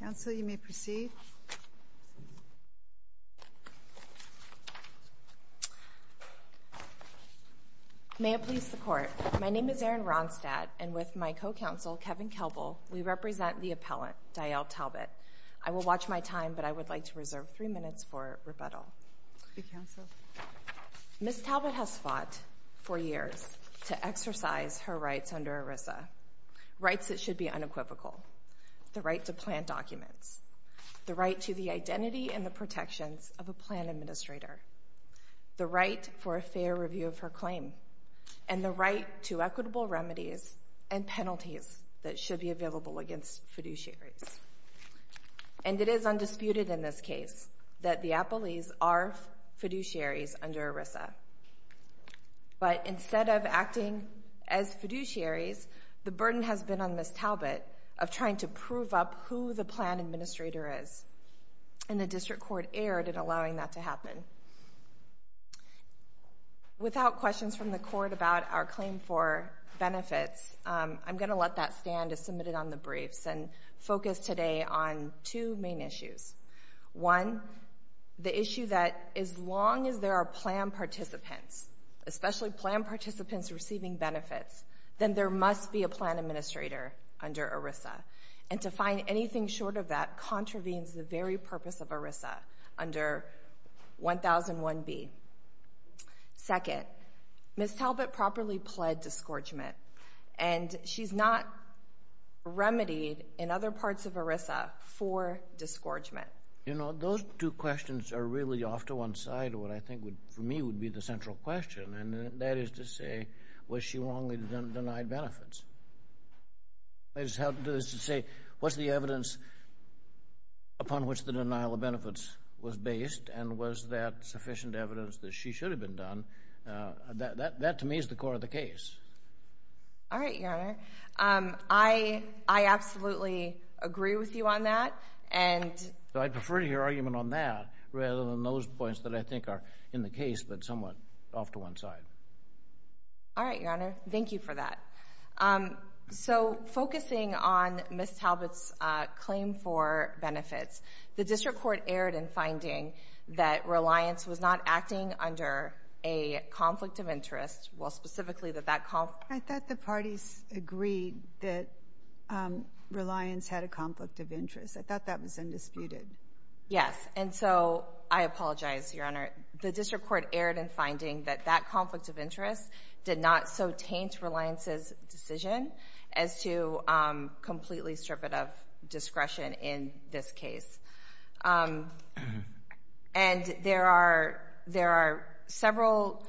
Council you may proceed. May it please the court, my name is Erin Ronstadt and with my co-counsel Kevin Kelbel we represent the appellant Diel Talbot. I will watch my time but I would like to reserve three minutes for rebuttal. Ms. Talbot has fought for years to exercise her rights under ERISA, rights that should be unequivocal, the right to plan documents, the right to the identity and the protections of a plan administrator, the right for a fair review of her claim, and the right to equitable remedies and penalties that should be available against fiduciaries. And it is undisputed in this case that the appellees are fiduciaries under ERISA. But instead of acting as Talbot, of trying to prove up who the plan administrator is. And the District Court erred in allowing that to happen. Without questions from the court about our claim for benefits, I'm going to let that stand as submitted on the briefs and focus today on two main issues. One, the issue that as long as there are plan participants, especially plan participants receiving benefits, then there must be a plan administrator under ERISA. And to find anything short of that contravenes the very purpose of ERISA under 1001B. Second, Ms. Talbot properly pled disgorgement. And she's not remedied in other parts of ERISA for disgorgement. You know, those two questions are really off to one side of what I think would, for me, would be the central question. And that is to say, was she wrongly denied benefits? I just have to say, what's the evidence upon which the denial of benefits was based? And was that sufficient evidence that she should have been done? That, to me, is the core of the case. All right, Your Honor. I absolutely agree with you on that. And I prefer to hear argument on that, rather than those points that I think are in the case, but somewhat off to one side. All right, Your Honor. Thank you for that. So focusing on Ms. Talbot's claim for benefits, the district court erred in finding that Reliance was not acting under a conflict of interest. Well, specifically that that conflict... I thought the parties agreed that Reliance had a conflict of interest. I thought that was undisputed. Yes. And so, I erred in finding that that conflict of interest did not so taint Reliance's decision as to completely strip it of discretion in this case. And there are several...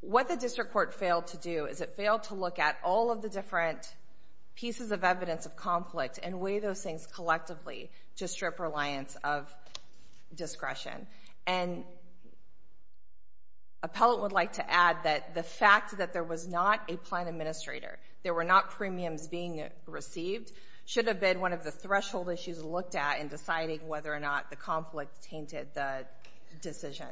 What the district court failed to do is it failed to look at all of the different pieces of evidence of conflict and weigh those things collectively to strip Reliance of discretion. And Appellate would like to add that the fact that there was not a plan administrator, there were not premiums being received, should have been one of the threshold issues looked at in deciding whether or not the conflict tainted the decision.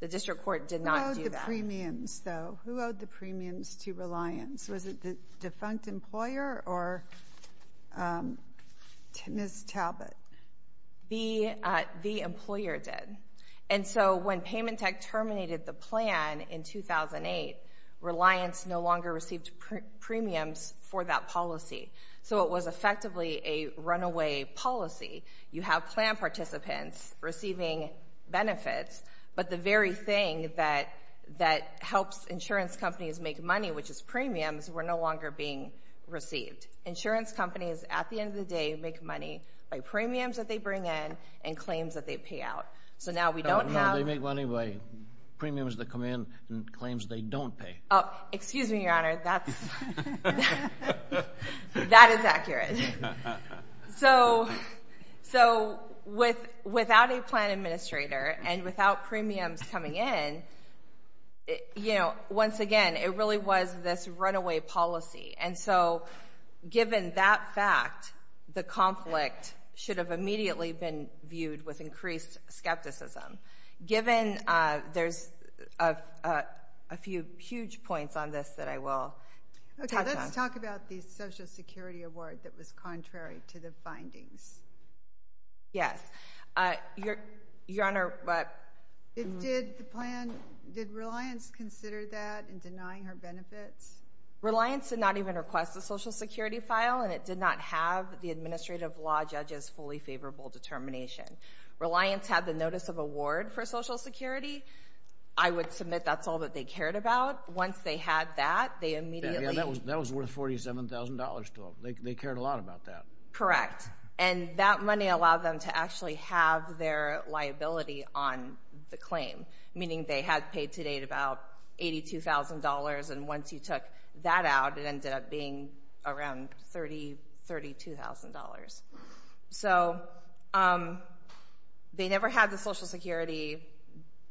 The district court did not do that. Who owed the premiums, though? Who owed the premiums to Reliance? Was it the employees? The employer did. And so, when Paymentech terminated the plan in 2008, Reliance no longer received premiums for that policy. So, it was effectively a runaway policy. You have plan participants receiving benefits, but the very thing that that helps insurance companies make money, which is premiums, were no longer being received. Insurance companies, at the end of the day, make money by premiums that they bring in and claims that they pay out. So, now we don't have... No, they make money by premiums that come in and claims they don't pay. Oh, excuse me, Your Honor. That is accurate. So, without a plan administrator and without premiums coming in, you know, once again, it really was this runaway policy. And so, given that fact, the conflict should have immediately been viewed with increased skepticism. Given... There's a few huge points on this that I will touch on. Okay, let's talk about the Social Security Award that was contrary to the findings. Yes. Your Honor, but... Did the plan... Did Reliance consider that in compliance? Reliance did not even request a Social Security file, and it did not have the administrative law judge's fully favorable determination. Reliance had the notice of award for Social Security. I would submit that's all that they cared about. Once they had that, they immediately... Yeah, that was worth $47,000 to them. They cared a lot about that. Correct. And that money allowed them to actually have their liability on the claim, meaning they had paid to date about $82,000, and once you took that out, it ended up being around $30,000, $32,000. So, they never had the Social Security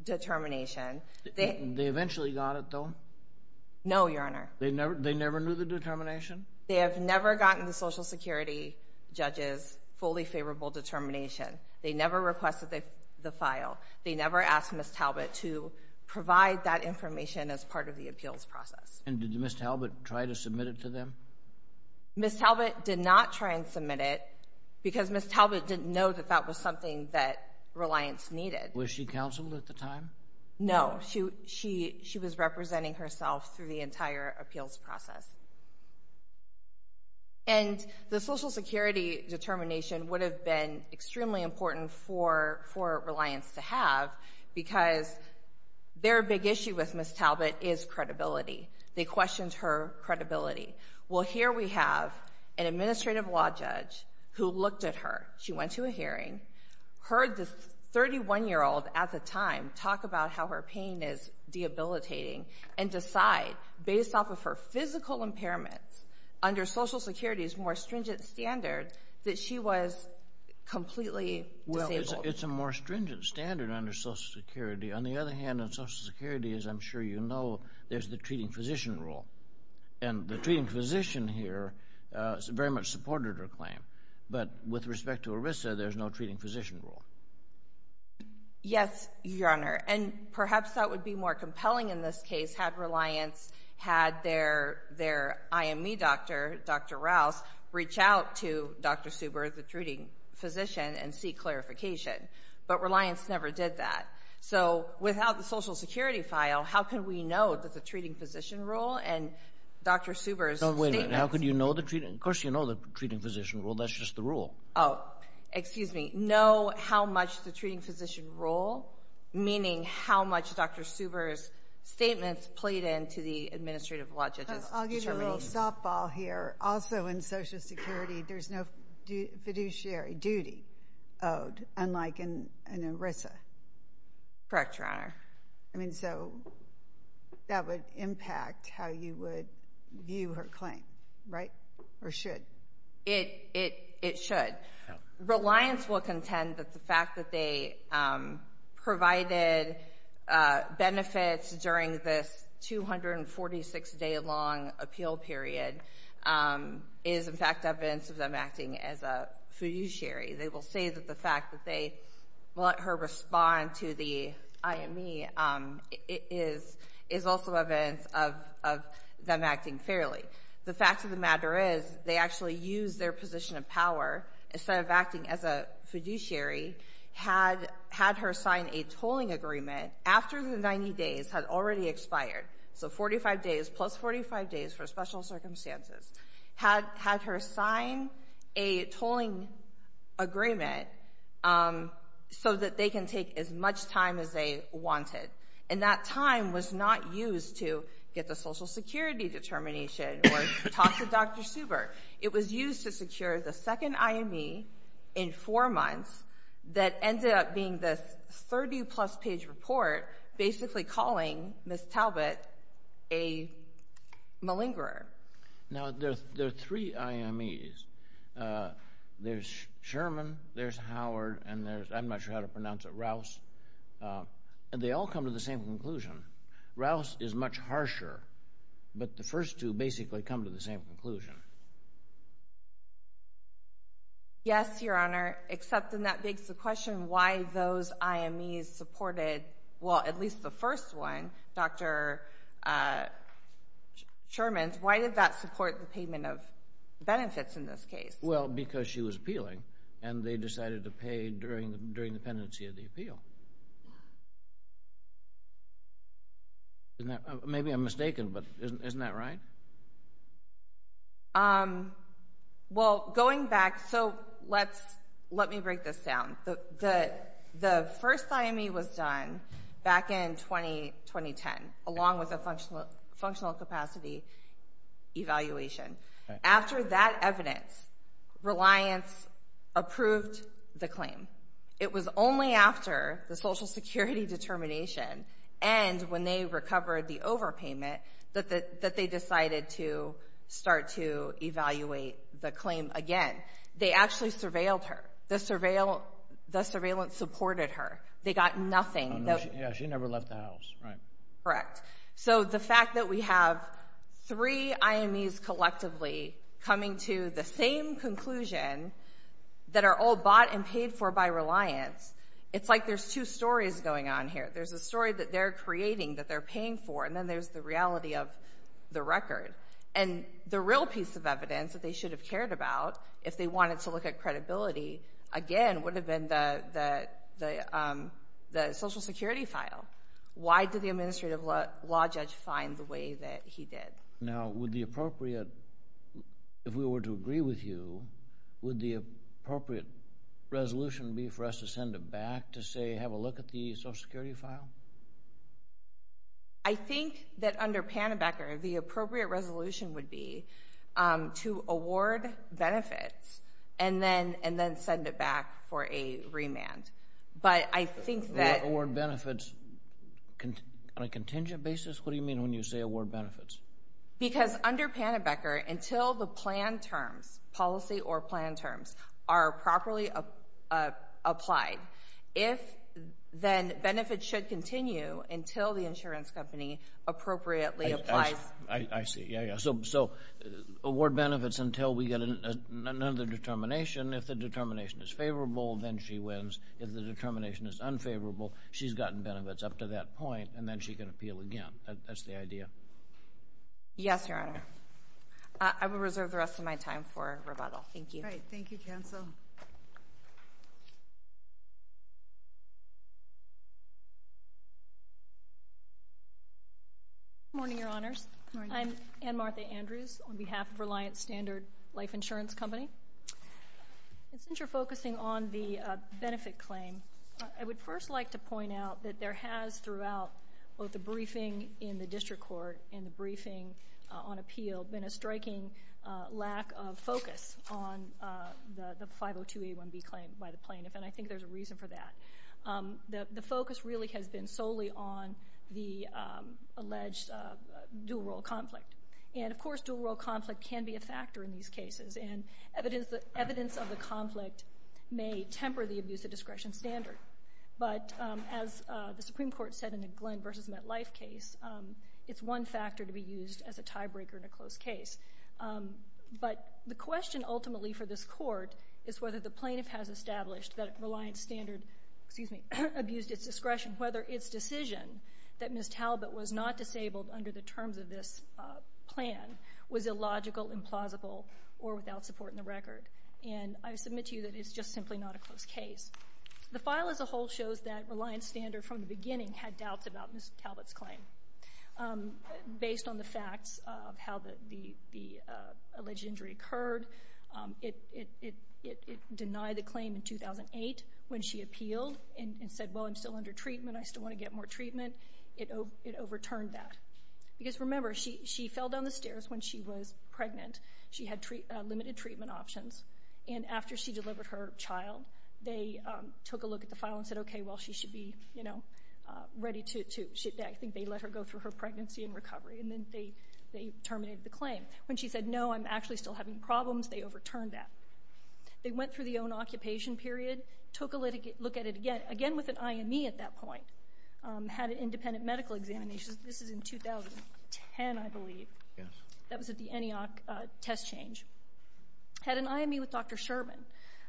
determination. They eventually got it, though? No, Your Honor. They never knew the determination? They have never gotten the Social Security judge's fully favorable determination. They never requested the file. They never asked Ms. Talbot to provide that information as part of the appeals process. And did Ms. Talbot try to submit it to them? Ms. Talbot did not try and submit it because Ms. Talbot didn't know that that was something that Reliance needed. Was she counseled at the time? No. She was representing herself through the entire appeals process. And the Social Security determination would have been extremely important for Reliance to have because their big issue with Ms. Talbot is credibility. They questioned her credibility. Well, here we have an administrative law judge who looked at her. She went to a hearing, heard this 31-year-old at the time talk about how her pain is debilitating, and decide, based off of her physical impairments, under Social Security's more stringent standard, that she was completely disabled. Well, it's a more stringent standard under Social Security. On the other hand, on Social Security, as I'm sure you know, there's the treating physician rule. And the treating physician here very much supported her claim. But with respect to ERISA, there's no treating physician rule. Yes, Your Honor. And perhaps that would be more compelling in this case had Reliance had their IME doctor, Dr. Rouse, reach out to Dr. Suber, the treating physician, and seek clarification. But Reliance never did that. So, without the Social Security file, how could we know that the treating physician rule and Dr. Suber's statements— No, wait a minute. How could you know the treating—of course you know the treating physician rule. That's just the rule. Oh, excuse me. Know how much the treating physician rule, meaning how much Dr. Suber's statements played into the administrative law judge's determination. I'll give you a little softball here. Also, in Social Security, there's no fiduciary duty owed, unlike in ERISA. Correct, Your Honor. I mean, so that would impact how you would view her claim, right? Or should? It should. Reliance will contend that the fact that they provided benefits during this 246-day-long appeal period is in fact evidence of them acting as a fiduciary. They will say that the fact that they let her respond to the IME is also evidence of them acting fairly. The fact of the matter is, they actually used their position of power, instead of acting as a fiduciary, had her sign a tolling agreement after the 90 days had already expired—so 45 days, plus 45 days for special circumstances—had her sign a tolling agreement so that they can take as much time as they wanted. And that time was not used to get the Social Security determination or talk to Dr. Suber. It was used to secure the second IME in four months that ended up being this 30-plus page report basically calling Ms. Talbot a malingerer. Now, there are three IMEs. There's Sherman, there's Howard, and there's—I'm not sure how to pronounce it—Rouse. And they all come to the same conclusion. Rouse is much harsher, but the first two basically come to the same conclusion. Yes, Your Honor, except then that begs the question why those IMEs supported—well, at least the first one, Dr. Sherman's—why did that support the payment of benefits in this case? Well, because she was appealing and they decided to pay during the pendency of the appeal. Maybe I'm mistaken, but isn't that right? Well, going back—so let me break this down. The first IME was done back in the early 2000s. Back in 2010, along with a functional capacity evaluation. After that evidence, Reliance approved the claim. It was only after the Social Security determination and when they recovered the overpayment that they decided to start to evaluate the claim again. They actually surveilled her. The surveillance supported her. They got nothing. She never left the house, right. Correct. So the fact that we have three IMEs collectively coming to the same conclusion that are all bought and paid for by Reliance, it's like there's two stories going on here. There's a story that they're creating that they're paying for, and then there's the reality of the record. And the real piece of evidence that they should have cared about if they Why did the administrative law judge find the way that he did? Now, would the appropriate—if we were to agree with you, would the appropriate resolution be for us to send it back to say, have a look at the Social Security file? I think that under Pannebecker, the appropriate resolution would be to award benefits and then send it back for a remand. But I think that— Award benefits on a contingent basis? What do you mean when you say award benefits? Because under Pannebecker, until the plan terms, policy or plan terms, are properly applied, if—then benefits should continue until the insurance company appropriately applies— I see. Yeah, yeah. So award benefits until we get another determination. If the determination is favorable, then she wins. If the determination is unfavorable, she's gotten benefits up to that point, and then she can appeal again. That's the idea. Yes, Your Honor. I will reserve the rest of my time for rebuttal. Thank you. All right. Thank you, counsel. Good morning, Your Honors. I'm Anne-Martha Andrews on behalf of Reliant Standard Life Focusing on the benefit claim, I would first like to point out that there has, throughout both the briefing in the district court and the briefing on appeal, been a striking lack of focus on the 502A1B claim by the plaintiff, and I think there's a reason for that. The focus really has been solely on the alleged dual role conflict. And, of course, dual role conflict can be a factor in these cases, and evidence of the conflict may temper the abuse of discretion standard. But as the Supreme Court said in the Glenn v. MetLife case, it's one factor to be used as a tiebreaker in a closed case. But the question ultimately for this court is whether the plaintiff has established that Reliant Standard abused its discretion, whether its decision that Ms. Talbot was not disabled under the terms of this plan was illogical, implausible, or without support in the record. And I submit to you that it's just simply not a closed case. The file as a whole shows that Reliant Standard, from the beginning, had doubts about Ms. Talbot's claim. Based on the facts of how the alleged injury occurred, it denied the claim in 2008 when she appealed and said, well, I'm still under treatment. I still want to get more treatment. Because, remember, she fell down the stairs when she was pregnant. She had limited treatment options. And after she delivered her child, they took a look at the file and said, okay, well, she should be ready to—I think they let her go through her pregnancy and recovery. And then they terminated the claim. When she said, no, I'm actually still having problems, they overturned that. They went through the own occupation period, took a look at it again, again with an IME at that point, had an independent medical examination. This is in 2010, I believe. That was at the ENIAC test change. Had an IME with Dr. Sherman.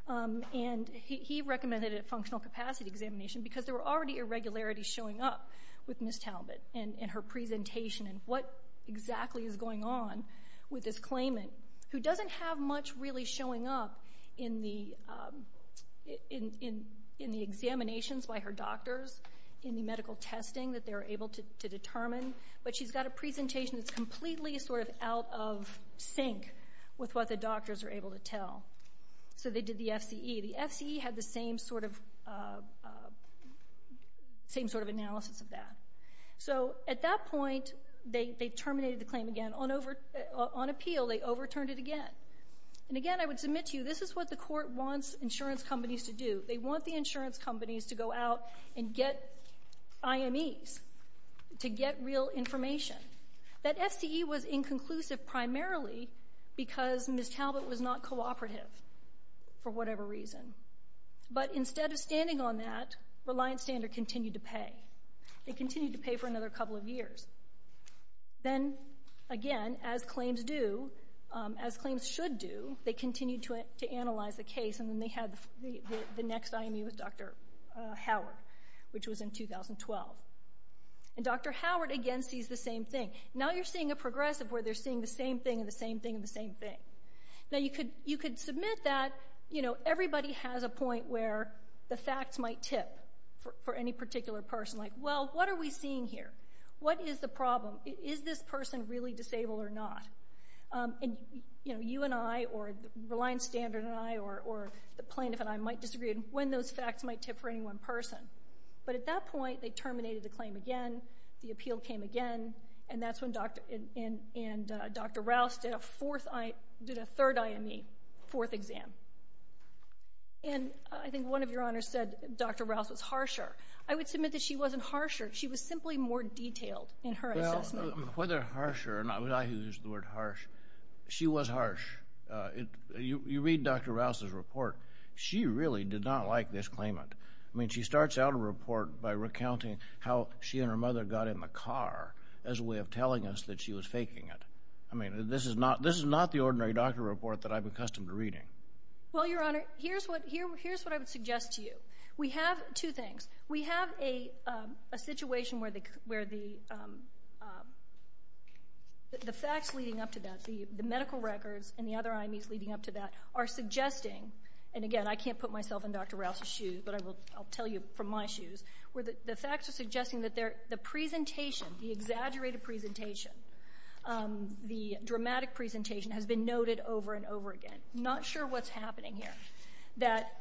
And he recommended a functional capacity examination because there were already irregularities showing up with Ms. Talbot and her presentation and what exactly is going on with this claimant who doesn't have much really showing up in the examinations by her doctors, in the medical testing that they were able to determine. But she's got a presentation that's completely sort of out of sync with what the doctors were able to tell. So they did the FCE. The FCE had the same sort of analysis of that. So at that point, they terminated the claim again. On appeal, they overturned it again. And again, I would submit to you, this is what the court wants insurance companies to do. They want the insurance companies to go out and get IMEs, to get real information. That FCE was inconclusive primarily because Ms. Talbot was not cooperative for whatever reason. But instead of standing on that, Reliance Standard continued to pay. They continued to pay for another couple of years. Then again, as claims do, as claims should do, they continued to analyze the case and then they had the Howard, which was in 2012. And Dr. Howard again sees the same thing. Now you're seeing a progressive where they're seeing the same thing and the same thing and the same thing. Now you could submit that everybody has a point where the facts might tip for any particular person like, well, what are we seeing here? What is the problem? Is this person really disabled or not? And you and I or Reliance Standard and I or the plaintiff and I might disagree on when those facts might tip for any one person. But at that point, they terminated the claim again. The appeal came again. And that's when Dr. Rouse did a third IME, fourth exam. And I think one of your honors said Dr. Rouse was harsher. I would submit that she wasn't harsher. She was simply more detailed in her assessment. Well, whether harsher or not, I use the word harsh, she was harsh. You read Dr. Rouse's report. She really did not like this claimant. I mean, she starts out a report by recounting how she and her mother got in the car as a way of telling us that she was faking it. I mean, this is not the ordinary doctor report that I'm accustomed to reading. Well, your honor, here's what I would suggest to you. We have two things. We have a situation where the facts leading up to that, the medical records and the other IMEs leading up to that are suggesting, and again, I can't put myself in Dr. Rouse's shoes, but I will tell you from my shoes, where the facts are suggesting that the presentation, the exaggerated presentation, the dramatic presentation has been noted over and over again. I'm not sure what's happening here. That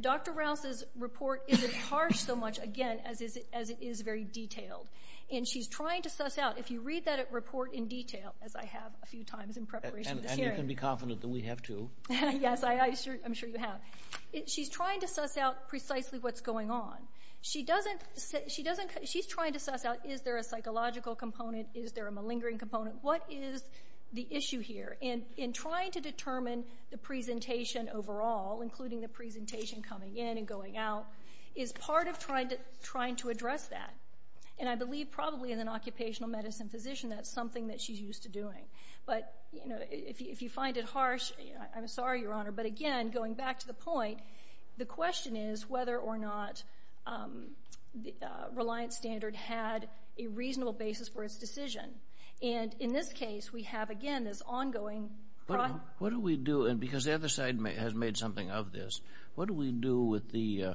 Dr. Rouse's report isn't harsh so much, again, as it is very detailed. And she's trying to suss out, if you read that report in detail, as I have a few times in Yes, I'm sure you have. She's trying to suss out precisely what's going on. She's trying to suss out, is there a psychological component? Is there a malingering component? What is the issue here? And in trying to determine the presentation overall, including the presentation coming in and going out, is part of trying to address that. And I believe probably in an occupational medicine physician, that's something that she's used to doing. But if you find it harsh, I'm sorry, Your Honor, but again, going back to the point, the question is whether or not Reliant Standard had a reasonable basis for its decision. And in this case, we have again this ongoing problem. What do we do, and because the other side has made something of this, what do we do with the,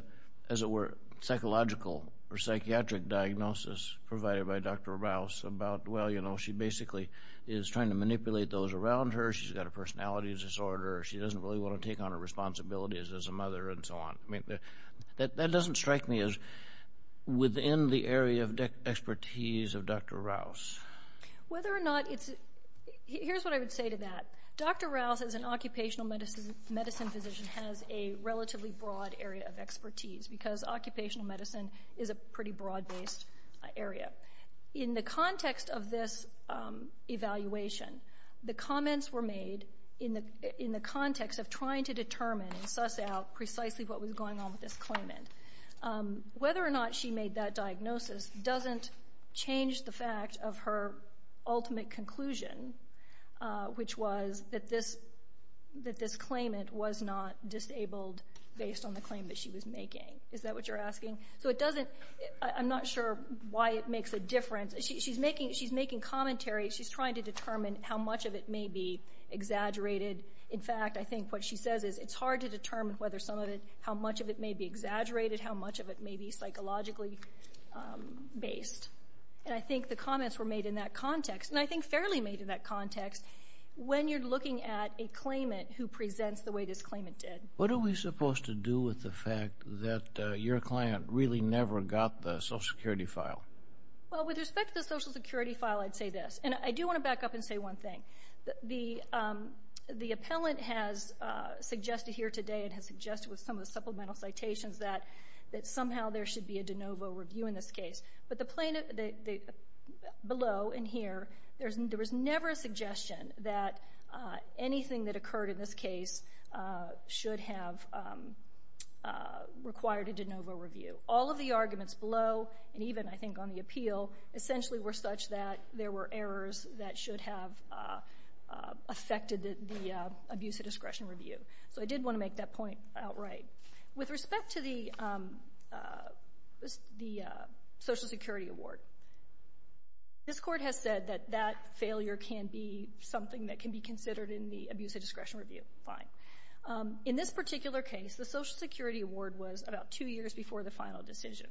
as it were, psychological or psychiatric diagnosis provided by Dr. Rouse about, well, she basically is trying to manipulate those around her. She's got a personality disorder. She doesn't really want to take on her responsibilities as a mother and so on. I mean, that doesn't strike me as within the area of expertise of Dr. Rouse. Whether or not it's, here's what I would say to that. Dr. Rouse as an occupational medicine physician has a relatively broad area of expertise, because occupational medicine is a pretty rigorous evaluation. The comments were made in the context of trying to determine and suss out precisely what was going on with this claimant. Whether or not she made that diagnosis doesn't change the fact of her ultimate conclusion, which was that this claimant was not disabled based on the claim that she was making. Is that what you're asking? So it is a commentary. She's trying to determine how much of it may be exaggerated. In fact, I think what she says is it's hard to determine whether some of it, how much of it may be exaggerated, how much of it may be psychologically based. And I think the comments were made in that context, and I think fairly made in that context, when you're looking at a claimant who presents the way this claimant did. What are we supposed to do with the fact that your client really never got the Social Security file? Well, with respect to the Social Security file, I'd say this. And I do want to back up and say one thing. The appellant has suggested here today, and has suggested with some of the supplemental citations, that somehow there should be a de novo review in this case. But the plaintiff below in here, there was never a suggestion that anything that occurred in this case should have required a de novo review. All of the arguments below, and even, I think, on the appeal, essentially were such that there were errors that should have affected the abuse of discretion review. So I did want to make that point outright. With respect to the Social Security award, this Court has said that that failure can be something that can be considered in the abuse of discretion review. Fine. In this particular case, the Social Security award was about two years before the final decision.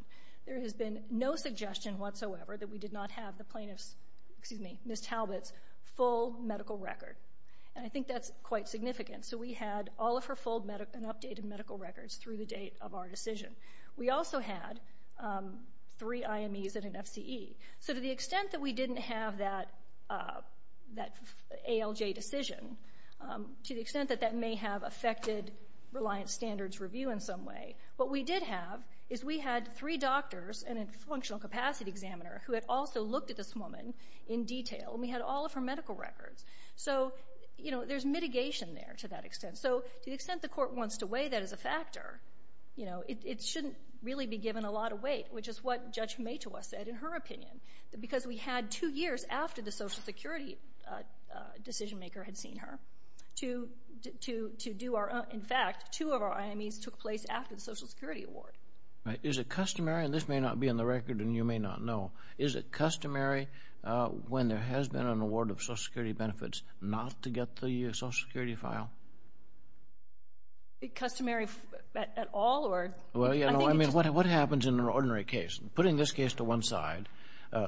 There has been no suggestion whatsoever that we did not have the plaintiff's, excuse me, Ms. Talbot's, full medical record. And I think that's quite significant. So we had all of her full and updated medical records through the date of our decision. We also had three IMEs and an FCE. So to the extent that we didn't have that ALJ decision, to the extent that that may have affected reliance standards review in some way, what we did have is we had three doctors and a functional capacity examiner who had also looked at this woman in detail, and we had all of her medical records. So, you know, there's mitigation there to that extent. So to the extent the Court wants to weigh that as a factor, you know, it shouldn't really be given a lot of weight, which is what Judge Matoa said in her opinion, because we had two years after the Social Security decision maker had seen her to do our own. In fact, two of our IMEs took place after the Social Security award. Right. Is it customary, and this may not be in the record and you may not know, is it customary when there has been an award of Social Security benefits not to get the Social Security file? Is it customary at all, or? Well, you know, I mean, what happens in an ordinary case? Putting this case to one side,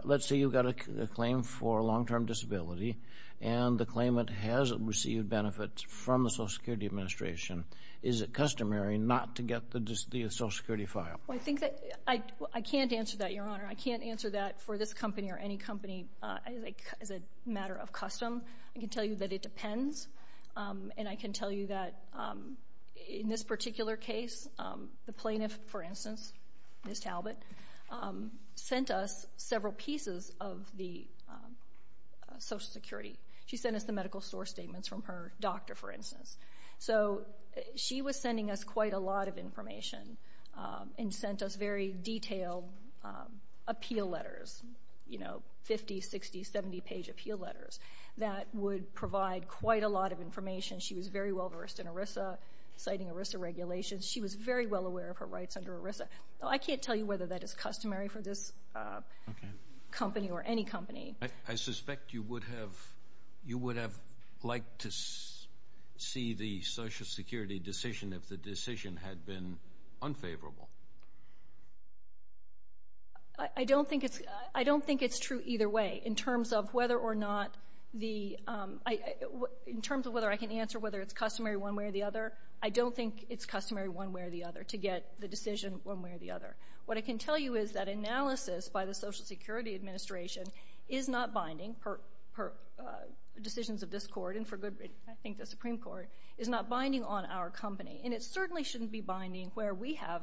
let's say you've got a claim for a long-term disability, and the claimant has received benefits from the Social Security Administration. Is it customary not to get the Social Security file? Well, I think that—I can't answer that, Your Honor. I can't answer that for this company or any company as a matter of custom. I can tell you that it depends, and I can tell you that in this particular case, the plaintiff, for instance, Ms. Talbot, sent us several pieces of the Social Security. She sent us the medical source statements from her doctor, for instance. So she was sending us quite a lot of information and sent us very detailed appeal letters, you know, 50-, 60-, 70-page appeal letters that would provide quite a lot of information. She was very well-versed in ERISA, citing ERISA regulations. She was very well aware of her rights under ERISA. I can't tell you whether that is customary for this company or any company. I suspect you would have—you would have liked to see the Social Security decision if the decision had been unfavorable. I don't think it's—I don't think it's true either way in terms of whether or not the—in terms of whether I can answer whether it's customary one way or the other. I don't think it's customary one way or the other to get the decision one way or the other. What I can tell you is that analysis by the Social Security Administration is not binding, per decisions of this Court and for good reason, I think the Supreme Court, is not binding on our company. And it certainly shouldn't be binding where we have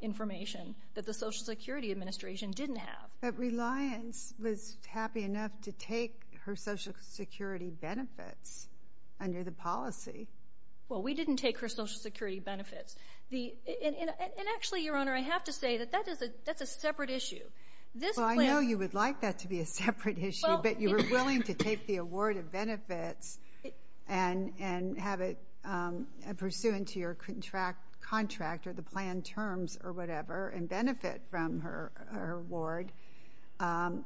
information that the Social Security Administration didn't have. But Reliance was happy enough to take her Social Security benefits under the policy. Well, we didn't take her Social Security benefits. The—and actually, Your Honor, I have to say that that is a—that's a separate issue. This plan— Well, I know you would like that to be a separate issue, but you were willing to take the award of benefits and have it pursuant to your contract or the plan terms or whatever and benefit from her award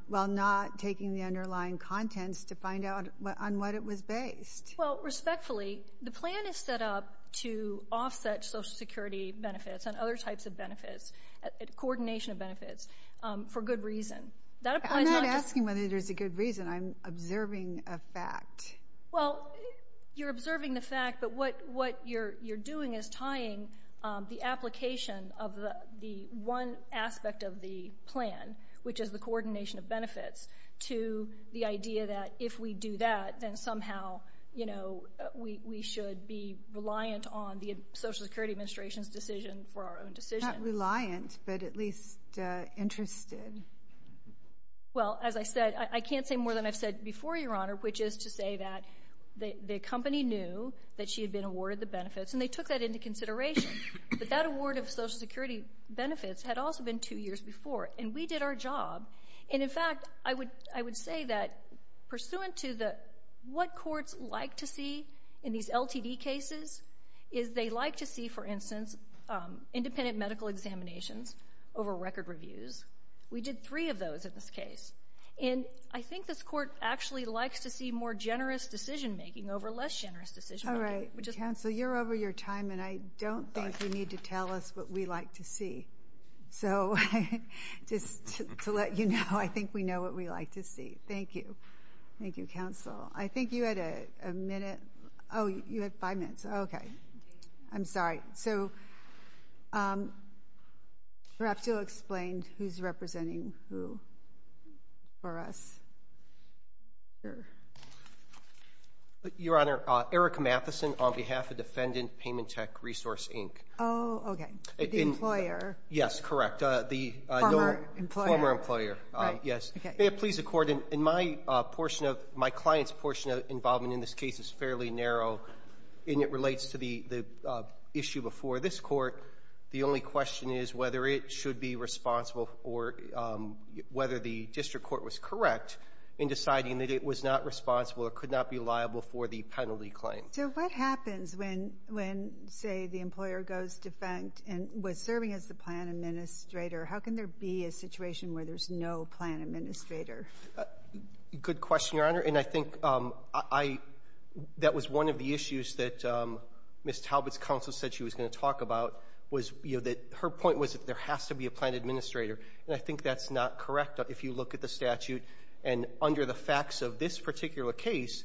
while not taking the underlying contents to find out on what it was based. Well, respectfully, the plan is set up to offset Social Security benefits and other types of benefits, coordination of benefits, for good reason. That applies not just— I'm not asking whether there's a good reason. I'm observing a fact. Well, you're observing the fact, but what you're doing is tying the application of the one aspect of the plan, which is the coordination of benefits, to the idea that if we do that, then somehow, you know, we should be reliant on the Social Security Administration's decision for our own decision. Not reliant, but at least interested. Well, as I said, I can't say more than I've said before, Your Honor, which is to say that the company knew that she had been awarded the benefits, and they took that into consideration. But that award of Social Security benefits had also been two years before, and we did our job. And in fact, I would—I would say that pursuant to the—what courts like to do, independent medical examinations over record reviews. We did three of those in this case. And I think this Court actually likes to see more generous decision-making over less generous decision-making. All right. Counsel, you're over your time, and I don't think you need to tell us what we like to see. So just to let you know, I think we know what we like to see. Thank you. Thank you, Counsel. I think you had a minute—oh, you had five minutes. Okay. I'm sorry. Perhaps you'll explain who's representing who for us here. Your Honor, Eric Matheson on behalf of Defendant Payment Tech Resource, Inc. Oh, okay. The employer. Yes, correct. The— Former employer. Former employer. Right. Yes. Okay. May it please the Court, in my portion of—my client's portion of involvement in this case is fairly narrow, and it relates to the issue before this Court. The only question is whether it should be responsible for—whether the district court was correct in deciding that it was not responsible or could not be liable for the penalty claim. So what happens when, say, the employer goes defunct and was serving as the plan administrator? How can there be a situation where there's no plan administrator? Good question, Your Honor. And I think I—that was one of the issues that Ms. Talbot's counsel said she was going to talk about was, you know, that her point was that there has to be a plan administrator. And I think that's not correct if you look at the statute. And under the facts of this particular case,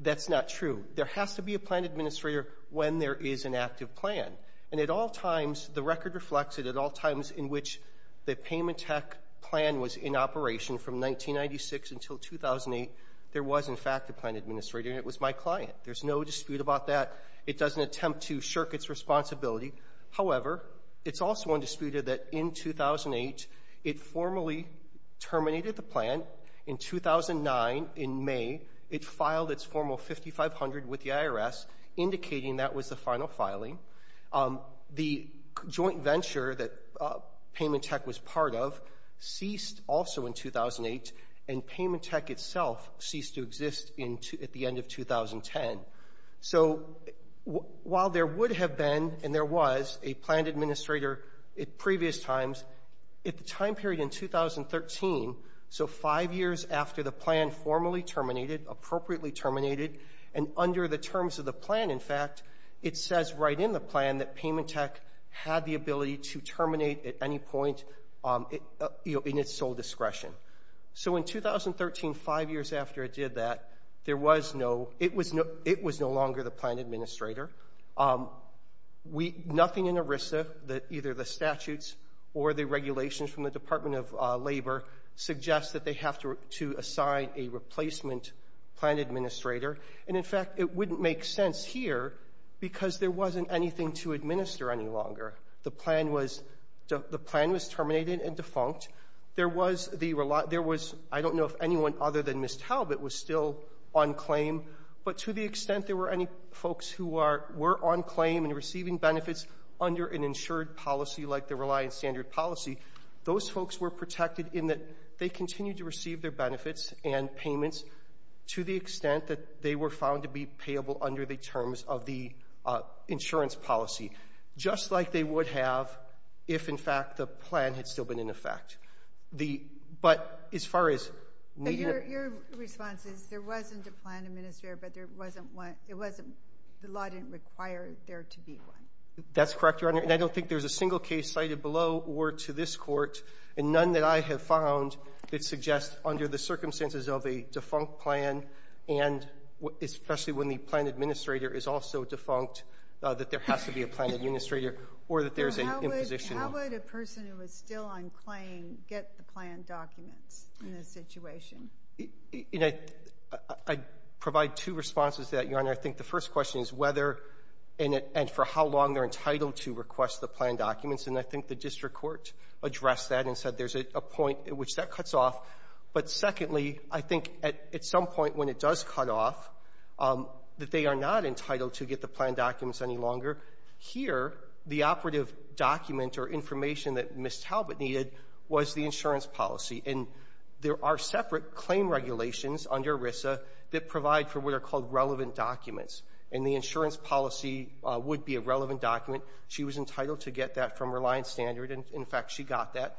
that's not true. There has to be a plan administrator when there is an active plan. And at all times, the record reflects it at all times in which the payment tech plan was in operation from 1996 until 2008, there was, in fact, a plan administrator, and it was my client. There's no dispute about that. It doesn't attempt to shirk its responsibility. However, it's also undisputed that in 2008, it formally terminated the plan. In 2009, in May, it filed its formal 5500 with the IRS, indicating that was the final filing. The joint venture that Payment Tech was part of ceased also in 2008, and Payment Tech itself ceased to exist at the end of 2010. So while there would have been, and there was, a plan administrator at previous times, at the time period in 2013, so five years after the plan formally terminated, appropriately terminated, and under the terms of the plan, in fact, it says right in the plan that Payment Tech had the ability to terminate at any point in its sole discretion. So in 2013, five years after it did that, it was no longer the plan administrator. Nothing in ERISA, either the statutes or the regulations from the Department of Labor, suggests that they have to assign a replacement plan administrator. And in fact, it wouldn't make sense here because there wasn't anything to administer any longer. The plan was terminated and defunct. There was the reliable ‑‑ there was, I don't know if anyone other than Ms. Talbot was still on claim, but to the extent there were any folks who are ‑‑ were on claim and receiving benefits under an insured policy like the Reliance Standard Policy, those folks were protected in that they continued to receive their benefits and payments to the extent that they were found to be payable under the terms of the insurance policy, just like they would have if, in fact, the plan had still been in effect. The ‑‑ but as far as needing a ‑‑ But your response is there wasn't a plan administrator, but there wasn't one ‑‑ it wasn't ‑‑ the law didn't require there to be one. That's correct, Your Honor. And I don't think there's a single case cited below or to this court, and none that I have found that suggests under the circumstances of a defunct plan and especially when the plan administrator is also defunct, that there has to be a plan administrator or that there's an imposition. How would a person who was still on claim get the plan documents in this situation? You know, I provide two responses to that, Your Honor. I think the first question is whether and for how long they're entitled to request the plan documents, and I think the district court addressed that and said there's a point at which that cuts off. But secondly, I think at some point when it does cut off, that they are not entitled to get the plan documents any longer. Here, the operative document or information that Ms. Talbot needed was the insurance policy. And there are separate claim regulations under ERISA that provide for what are called relevant documents, and the insurance policy would be a relevant document. She was entitled to get that from Reliance Standard, and in fact, she got that.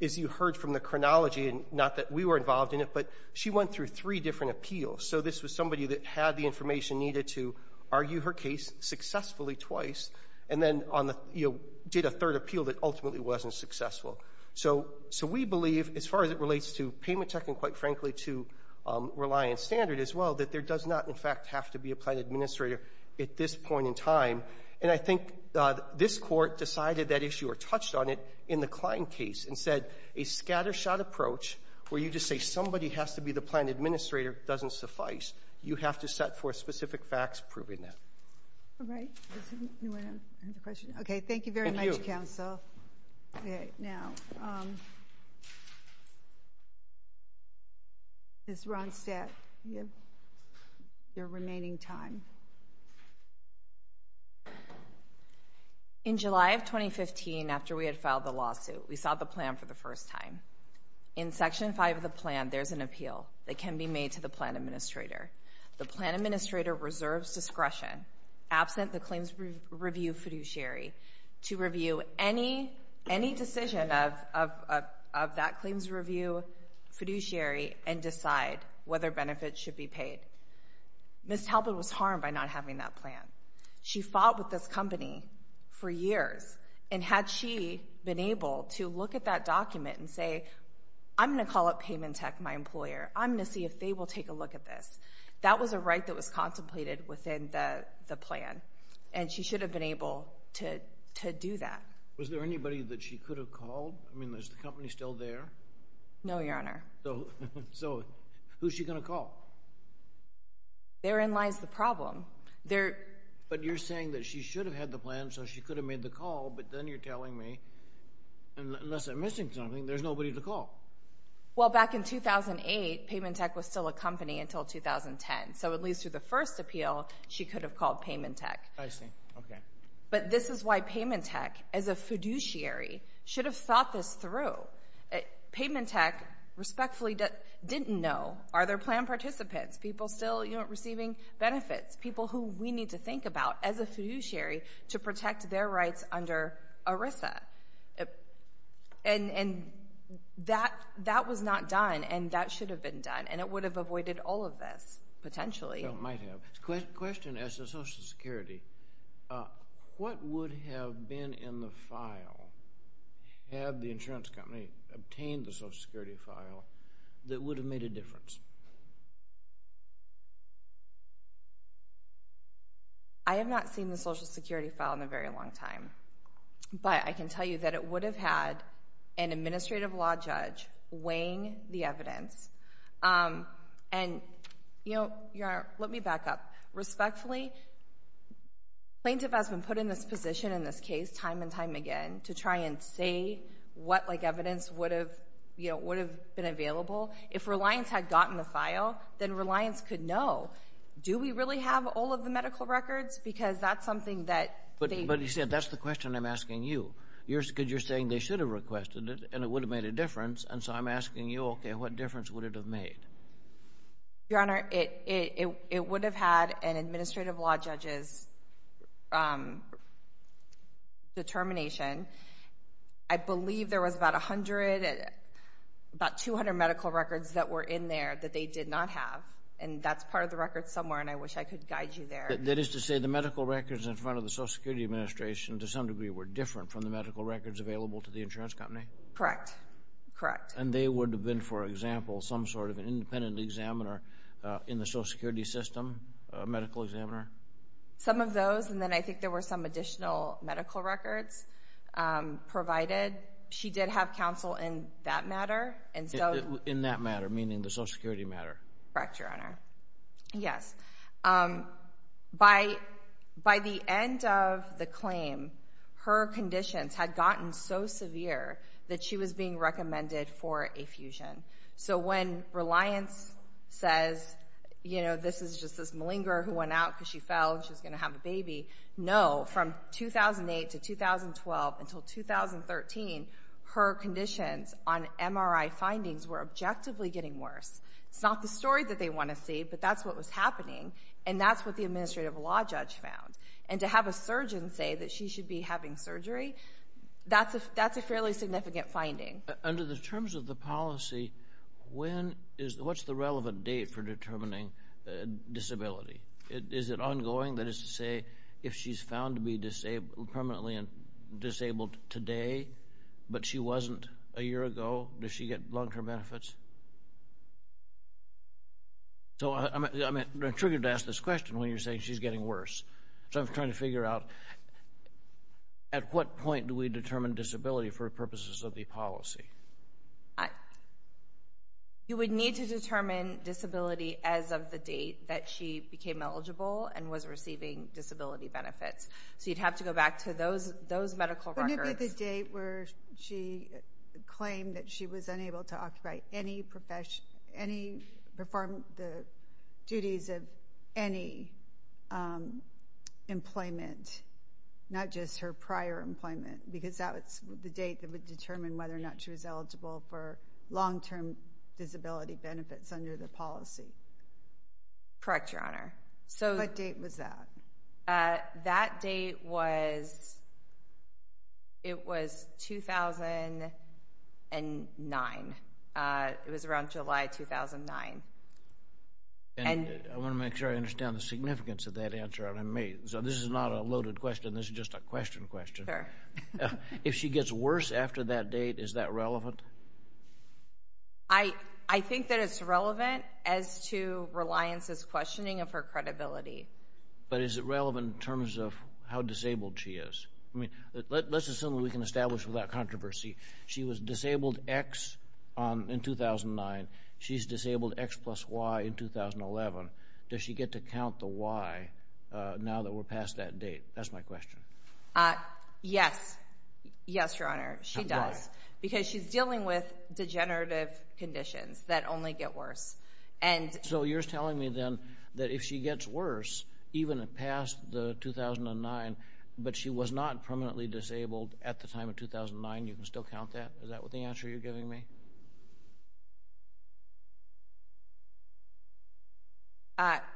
As you heard from the chronology, and not that we were involved in it, but she went through three different appeals. So this was somebody that had the information needed to argue her case successfully twice and then on the, you know, did a third appeal that ultimately wasn't successful. So we believe, as far as it relates to payment tech and quite frankly to Reliance Standard as well, that there does not, in fact, have to be a plan administrator at this point in time. And I think this court decided that issue or touched on it in the Klein case and said a scattershot approach where you just say somebody has to be the plan administrator doesn't suffice. You have to set forth specific facts proving that. All right. Does anyone have a question? Okay. Thank you very much, counsel. Okay. Now, Ms. Ronstadt, you have your remaining time. In July of 2015, after we had filed the lawsuit, we saw the plan for the first time. In Section 5 of the plan, there's an appeal that can be made to the plan administrator. The plan administrator reserves discretion, absent the claims review fiduciary, to review any decision of that claims review fiduciary and decide whether benefits should be paid. Ms. Talbot was harmed by not having that plan. She fought with this company for years. And had she been able to look at that document and say, I'm going to call up payment tech, my employer. I'm going to see if they will take a look at this. That was a right that was contemplated within the plan. And she should have been able to do that. Was there anybody that she could have called? I mean, is the company still there? No, Your Honor. So who's she going to call? Therein lies the problem. But you're saying that she should have had the plan, so she could have made the call, but then you're telling me, unless I'm missing something, there's nobody to call. Well, back in 2008, payment tech was still a company until 2010. So at least through the first appeal, she could have called payment tech. I see. Okay. But this is why payment tech, as a fiduciary, should have thought this through. Payment tech respectfully didn't know, are there plan participants, people still receiving benefits, people who we need to think about as a fiduciary to protect their rights under ERISA. And that was not done, and that should have been done, and it would have avoided all of this, potentially. It might have. Question as to Social Security. What would have been in the file had the insurance company obtained the Social Security file that would have made a difference? I have not seen the Social Security file in a very long time. But I can tell you that it would have had an administrative law judge weighing the evidence. And, Your Honor, let me back up. Respectfully, plaintiff has been put in this position in this case time and time again to try and say what, like evidence, would have been available. If Reliance had gotten the file, then Reliance could know, do we really have all of the medical records, because that's something that they That's the question I'm asking you, because you're saying they should have requested it and it would have made a difference. And so I'm asking you, okay, what difference would it have made? Your Honor, it would have had an administrative law judge's determination. I believe there was about 200 medical records that were in there that they did not have, and that's part of the record somewhere, and I wish I could guide you there. That is to say the medical records in front of the Social Security Administration, to some degree, were different from the medical records available to the insurance company? Correct. And they would have been, for example, some sort of an independent examiner in the Social Security system, a medical examiner? Some of those, and then I think there were some additional medical records provided. She did have counsel in that matter. In that matter, meaning the Social Security matter? Correct, Your Honor. Yes, by the end of the claim, her conditions had gotten so severe that she was being recommended for a fusion. So when Reliance says, you know, this is just this malingerer who went out because she fell and she was going to have a baby, no, from 2008 to 2012 until 2013, her conditions on MRI findings were objectively getting worse. It's not the story that they want to see, but that's what was happening, and that's what the administrative law judge found. And to have a surgeon say that she should be having surgery, that's a fairly significant finding. Under the terms of the policy, what's the relevant date for determining disability? Is it ongoing? That is to say if she's found to be permanently disabled today but she wasn't a year ago, does she get long-term benefits? So I'm intrigued to ask this question when you're saying she's getting worse. So I'm trying to figure out at what point do we determine disability for purposes of the policy? You would need to determine disability as of the date that she became eligible and was receiving disability benefits. So you'd have to go back to those medical records. Would it be the date where she claimed that she was unable to perform the duties of any employment, not just her prior employment, because that's the date that would determine whether or not she was eligible for long-term disability benefits under the policy? Correct, Your Honor. What date was that? That date was 2009. It was around July 2009. I want to make sure I understand the significance of that answer. This is not a loaded question. This is just a question question. If she gets worse after that date, is that relevant? I think that it's relevant as to Reliance's questioning of her credibility. But is it relevant in terms of how disabled she is? Let's assume that we can establish without controversy. She was disabled X in 2009. She's disabled X plus Y in 2011. Does she get to count the Y now that we're past that date? That's my question. Yes. Yes, Your Honor, she does because she's dealing with degenerative conditions that only get worse. So you're telling me then that if she gets worse, even past 2009, but she was not permanently disabled at the time of 2009, you can still count that? Is that the answer you're giving me?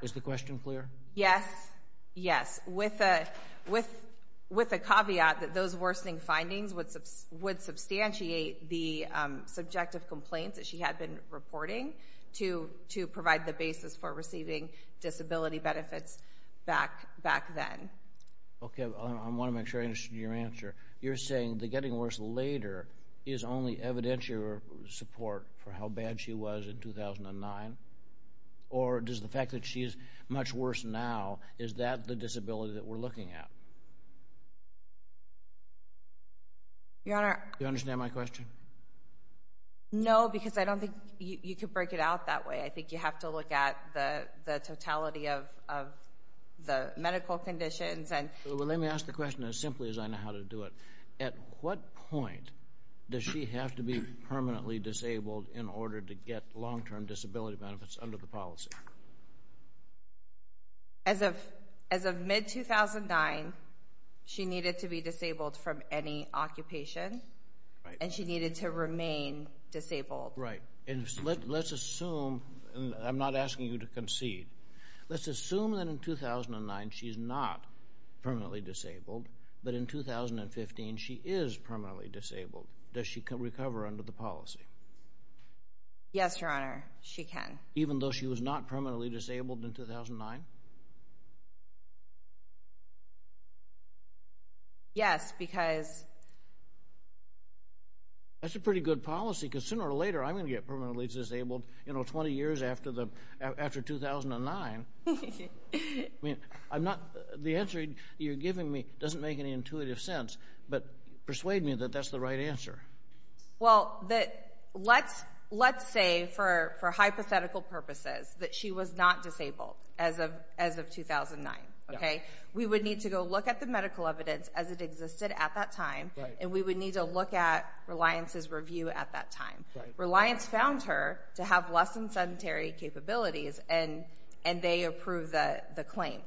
Is the question clear? Yes. Yes. With a caveat that those worsening findings would substantiate the subjective complaints that she had been reporting to provide the basis for receiving disability benefits back then. Okay. I want to make sure I understood your answer. You're saying the getting worse later is only evident to your support for how bad she was in 2009? Or does the fact that she's much worse now, is that the disability that we're looking at? Your Honor. Do you understand my question? No, because I don't think you could break it out that way. I think you have to look at the totality of the medical conditions. Well, let me ask the question as simply as I know how to do it. At what point does she have to be permanently disabled in order to get long-term disability benefits under the policy? As of mid-2009, she needed to be disabled from any occupation. Right. And she needed to remain disabled. Right. And let's assume, and I'm not asking you to concede, let's assume that in 2009 she's not permanently disabled, but in 2015 she is permanently disabled. Does she recover under the policy? Yes, Your Honor, she can. Even though she was not permanently disabled in 2009? Yes, because... That's a pretty good policy, because sooner or later I'm going to get permanently disabled, you know, 20 years after 2009. I mean, I'm not, the answer you're giving me doesn't make any intuitive sense, but persuade me that that's the right answer. Well, let's say for hypothetical purposes that she was not disabled as of 2009. Okay? We would need to go look at the medical evidence as it existed at that time. Right. And we would need to look at Reliance's review at that time. Right. Reliance found her to have less than sedentary capabilities, and they approved the claim.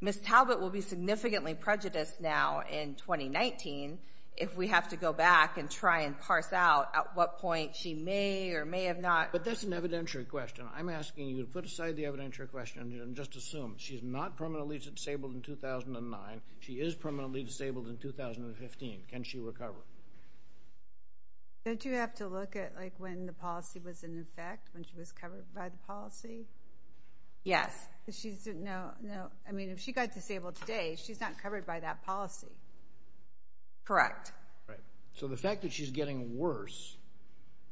Ms. Talbot will be significantly prejudiced now in 2019 if we have to go back and try and parse out at what point she may or may have not... But that's an evidentiary question. I'm asking you to put aside the evidentiary question and just assume she's not permanently disabled in 2009. She is permanently disabled in 2015. Can she recover? Don't you have to look at, like, when the policy was in effect, when she was covered by the policy? Yes. No, no. I mean, if she got disabled today, she's not covered by that policy. Correct. Right. So the fact that she's getting worse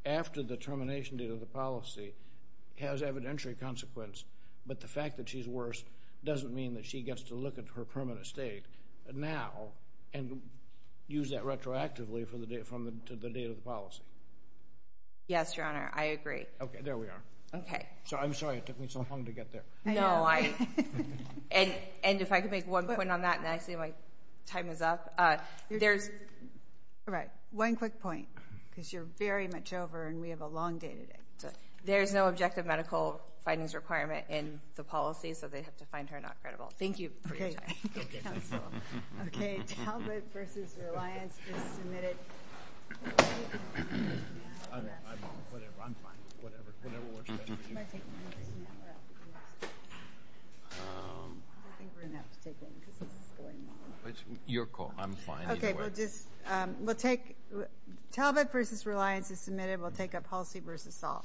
after the termination date of the policy has evidentiary consequence, but the fact that she's worse doesn't mean that she gets to look at her permanent state now and use that retroactively from the date of the policy. Yes, Your Honor. I agree. Okay. There we are. Okay. So I'm sorry. It took me so long to get there. No. And if I could make one point on that, and actually my time is up. There's... All right. One quick point, because you're very much over, and we have a long day today. There's no objective medical findings requirement in the policy, so they'd have to find her not credible. Thank you for your time. Okay. Okay. Talbot v. Reliance is submitted. I'm fine. Whatever works best for you. I think we're going to have to take that, because this is going wrong. It's your call. I'm fine either way. Okay. We'll take Talbot v. Reliance is submitted. We'll take a policy v. Saul.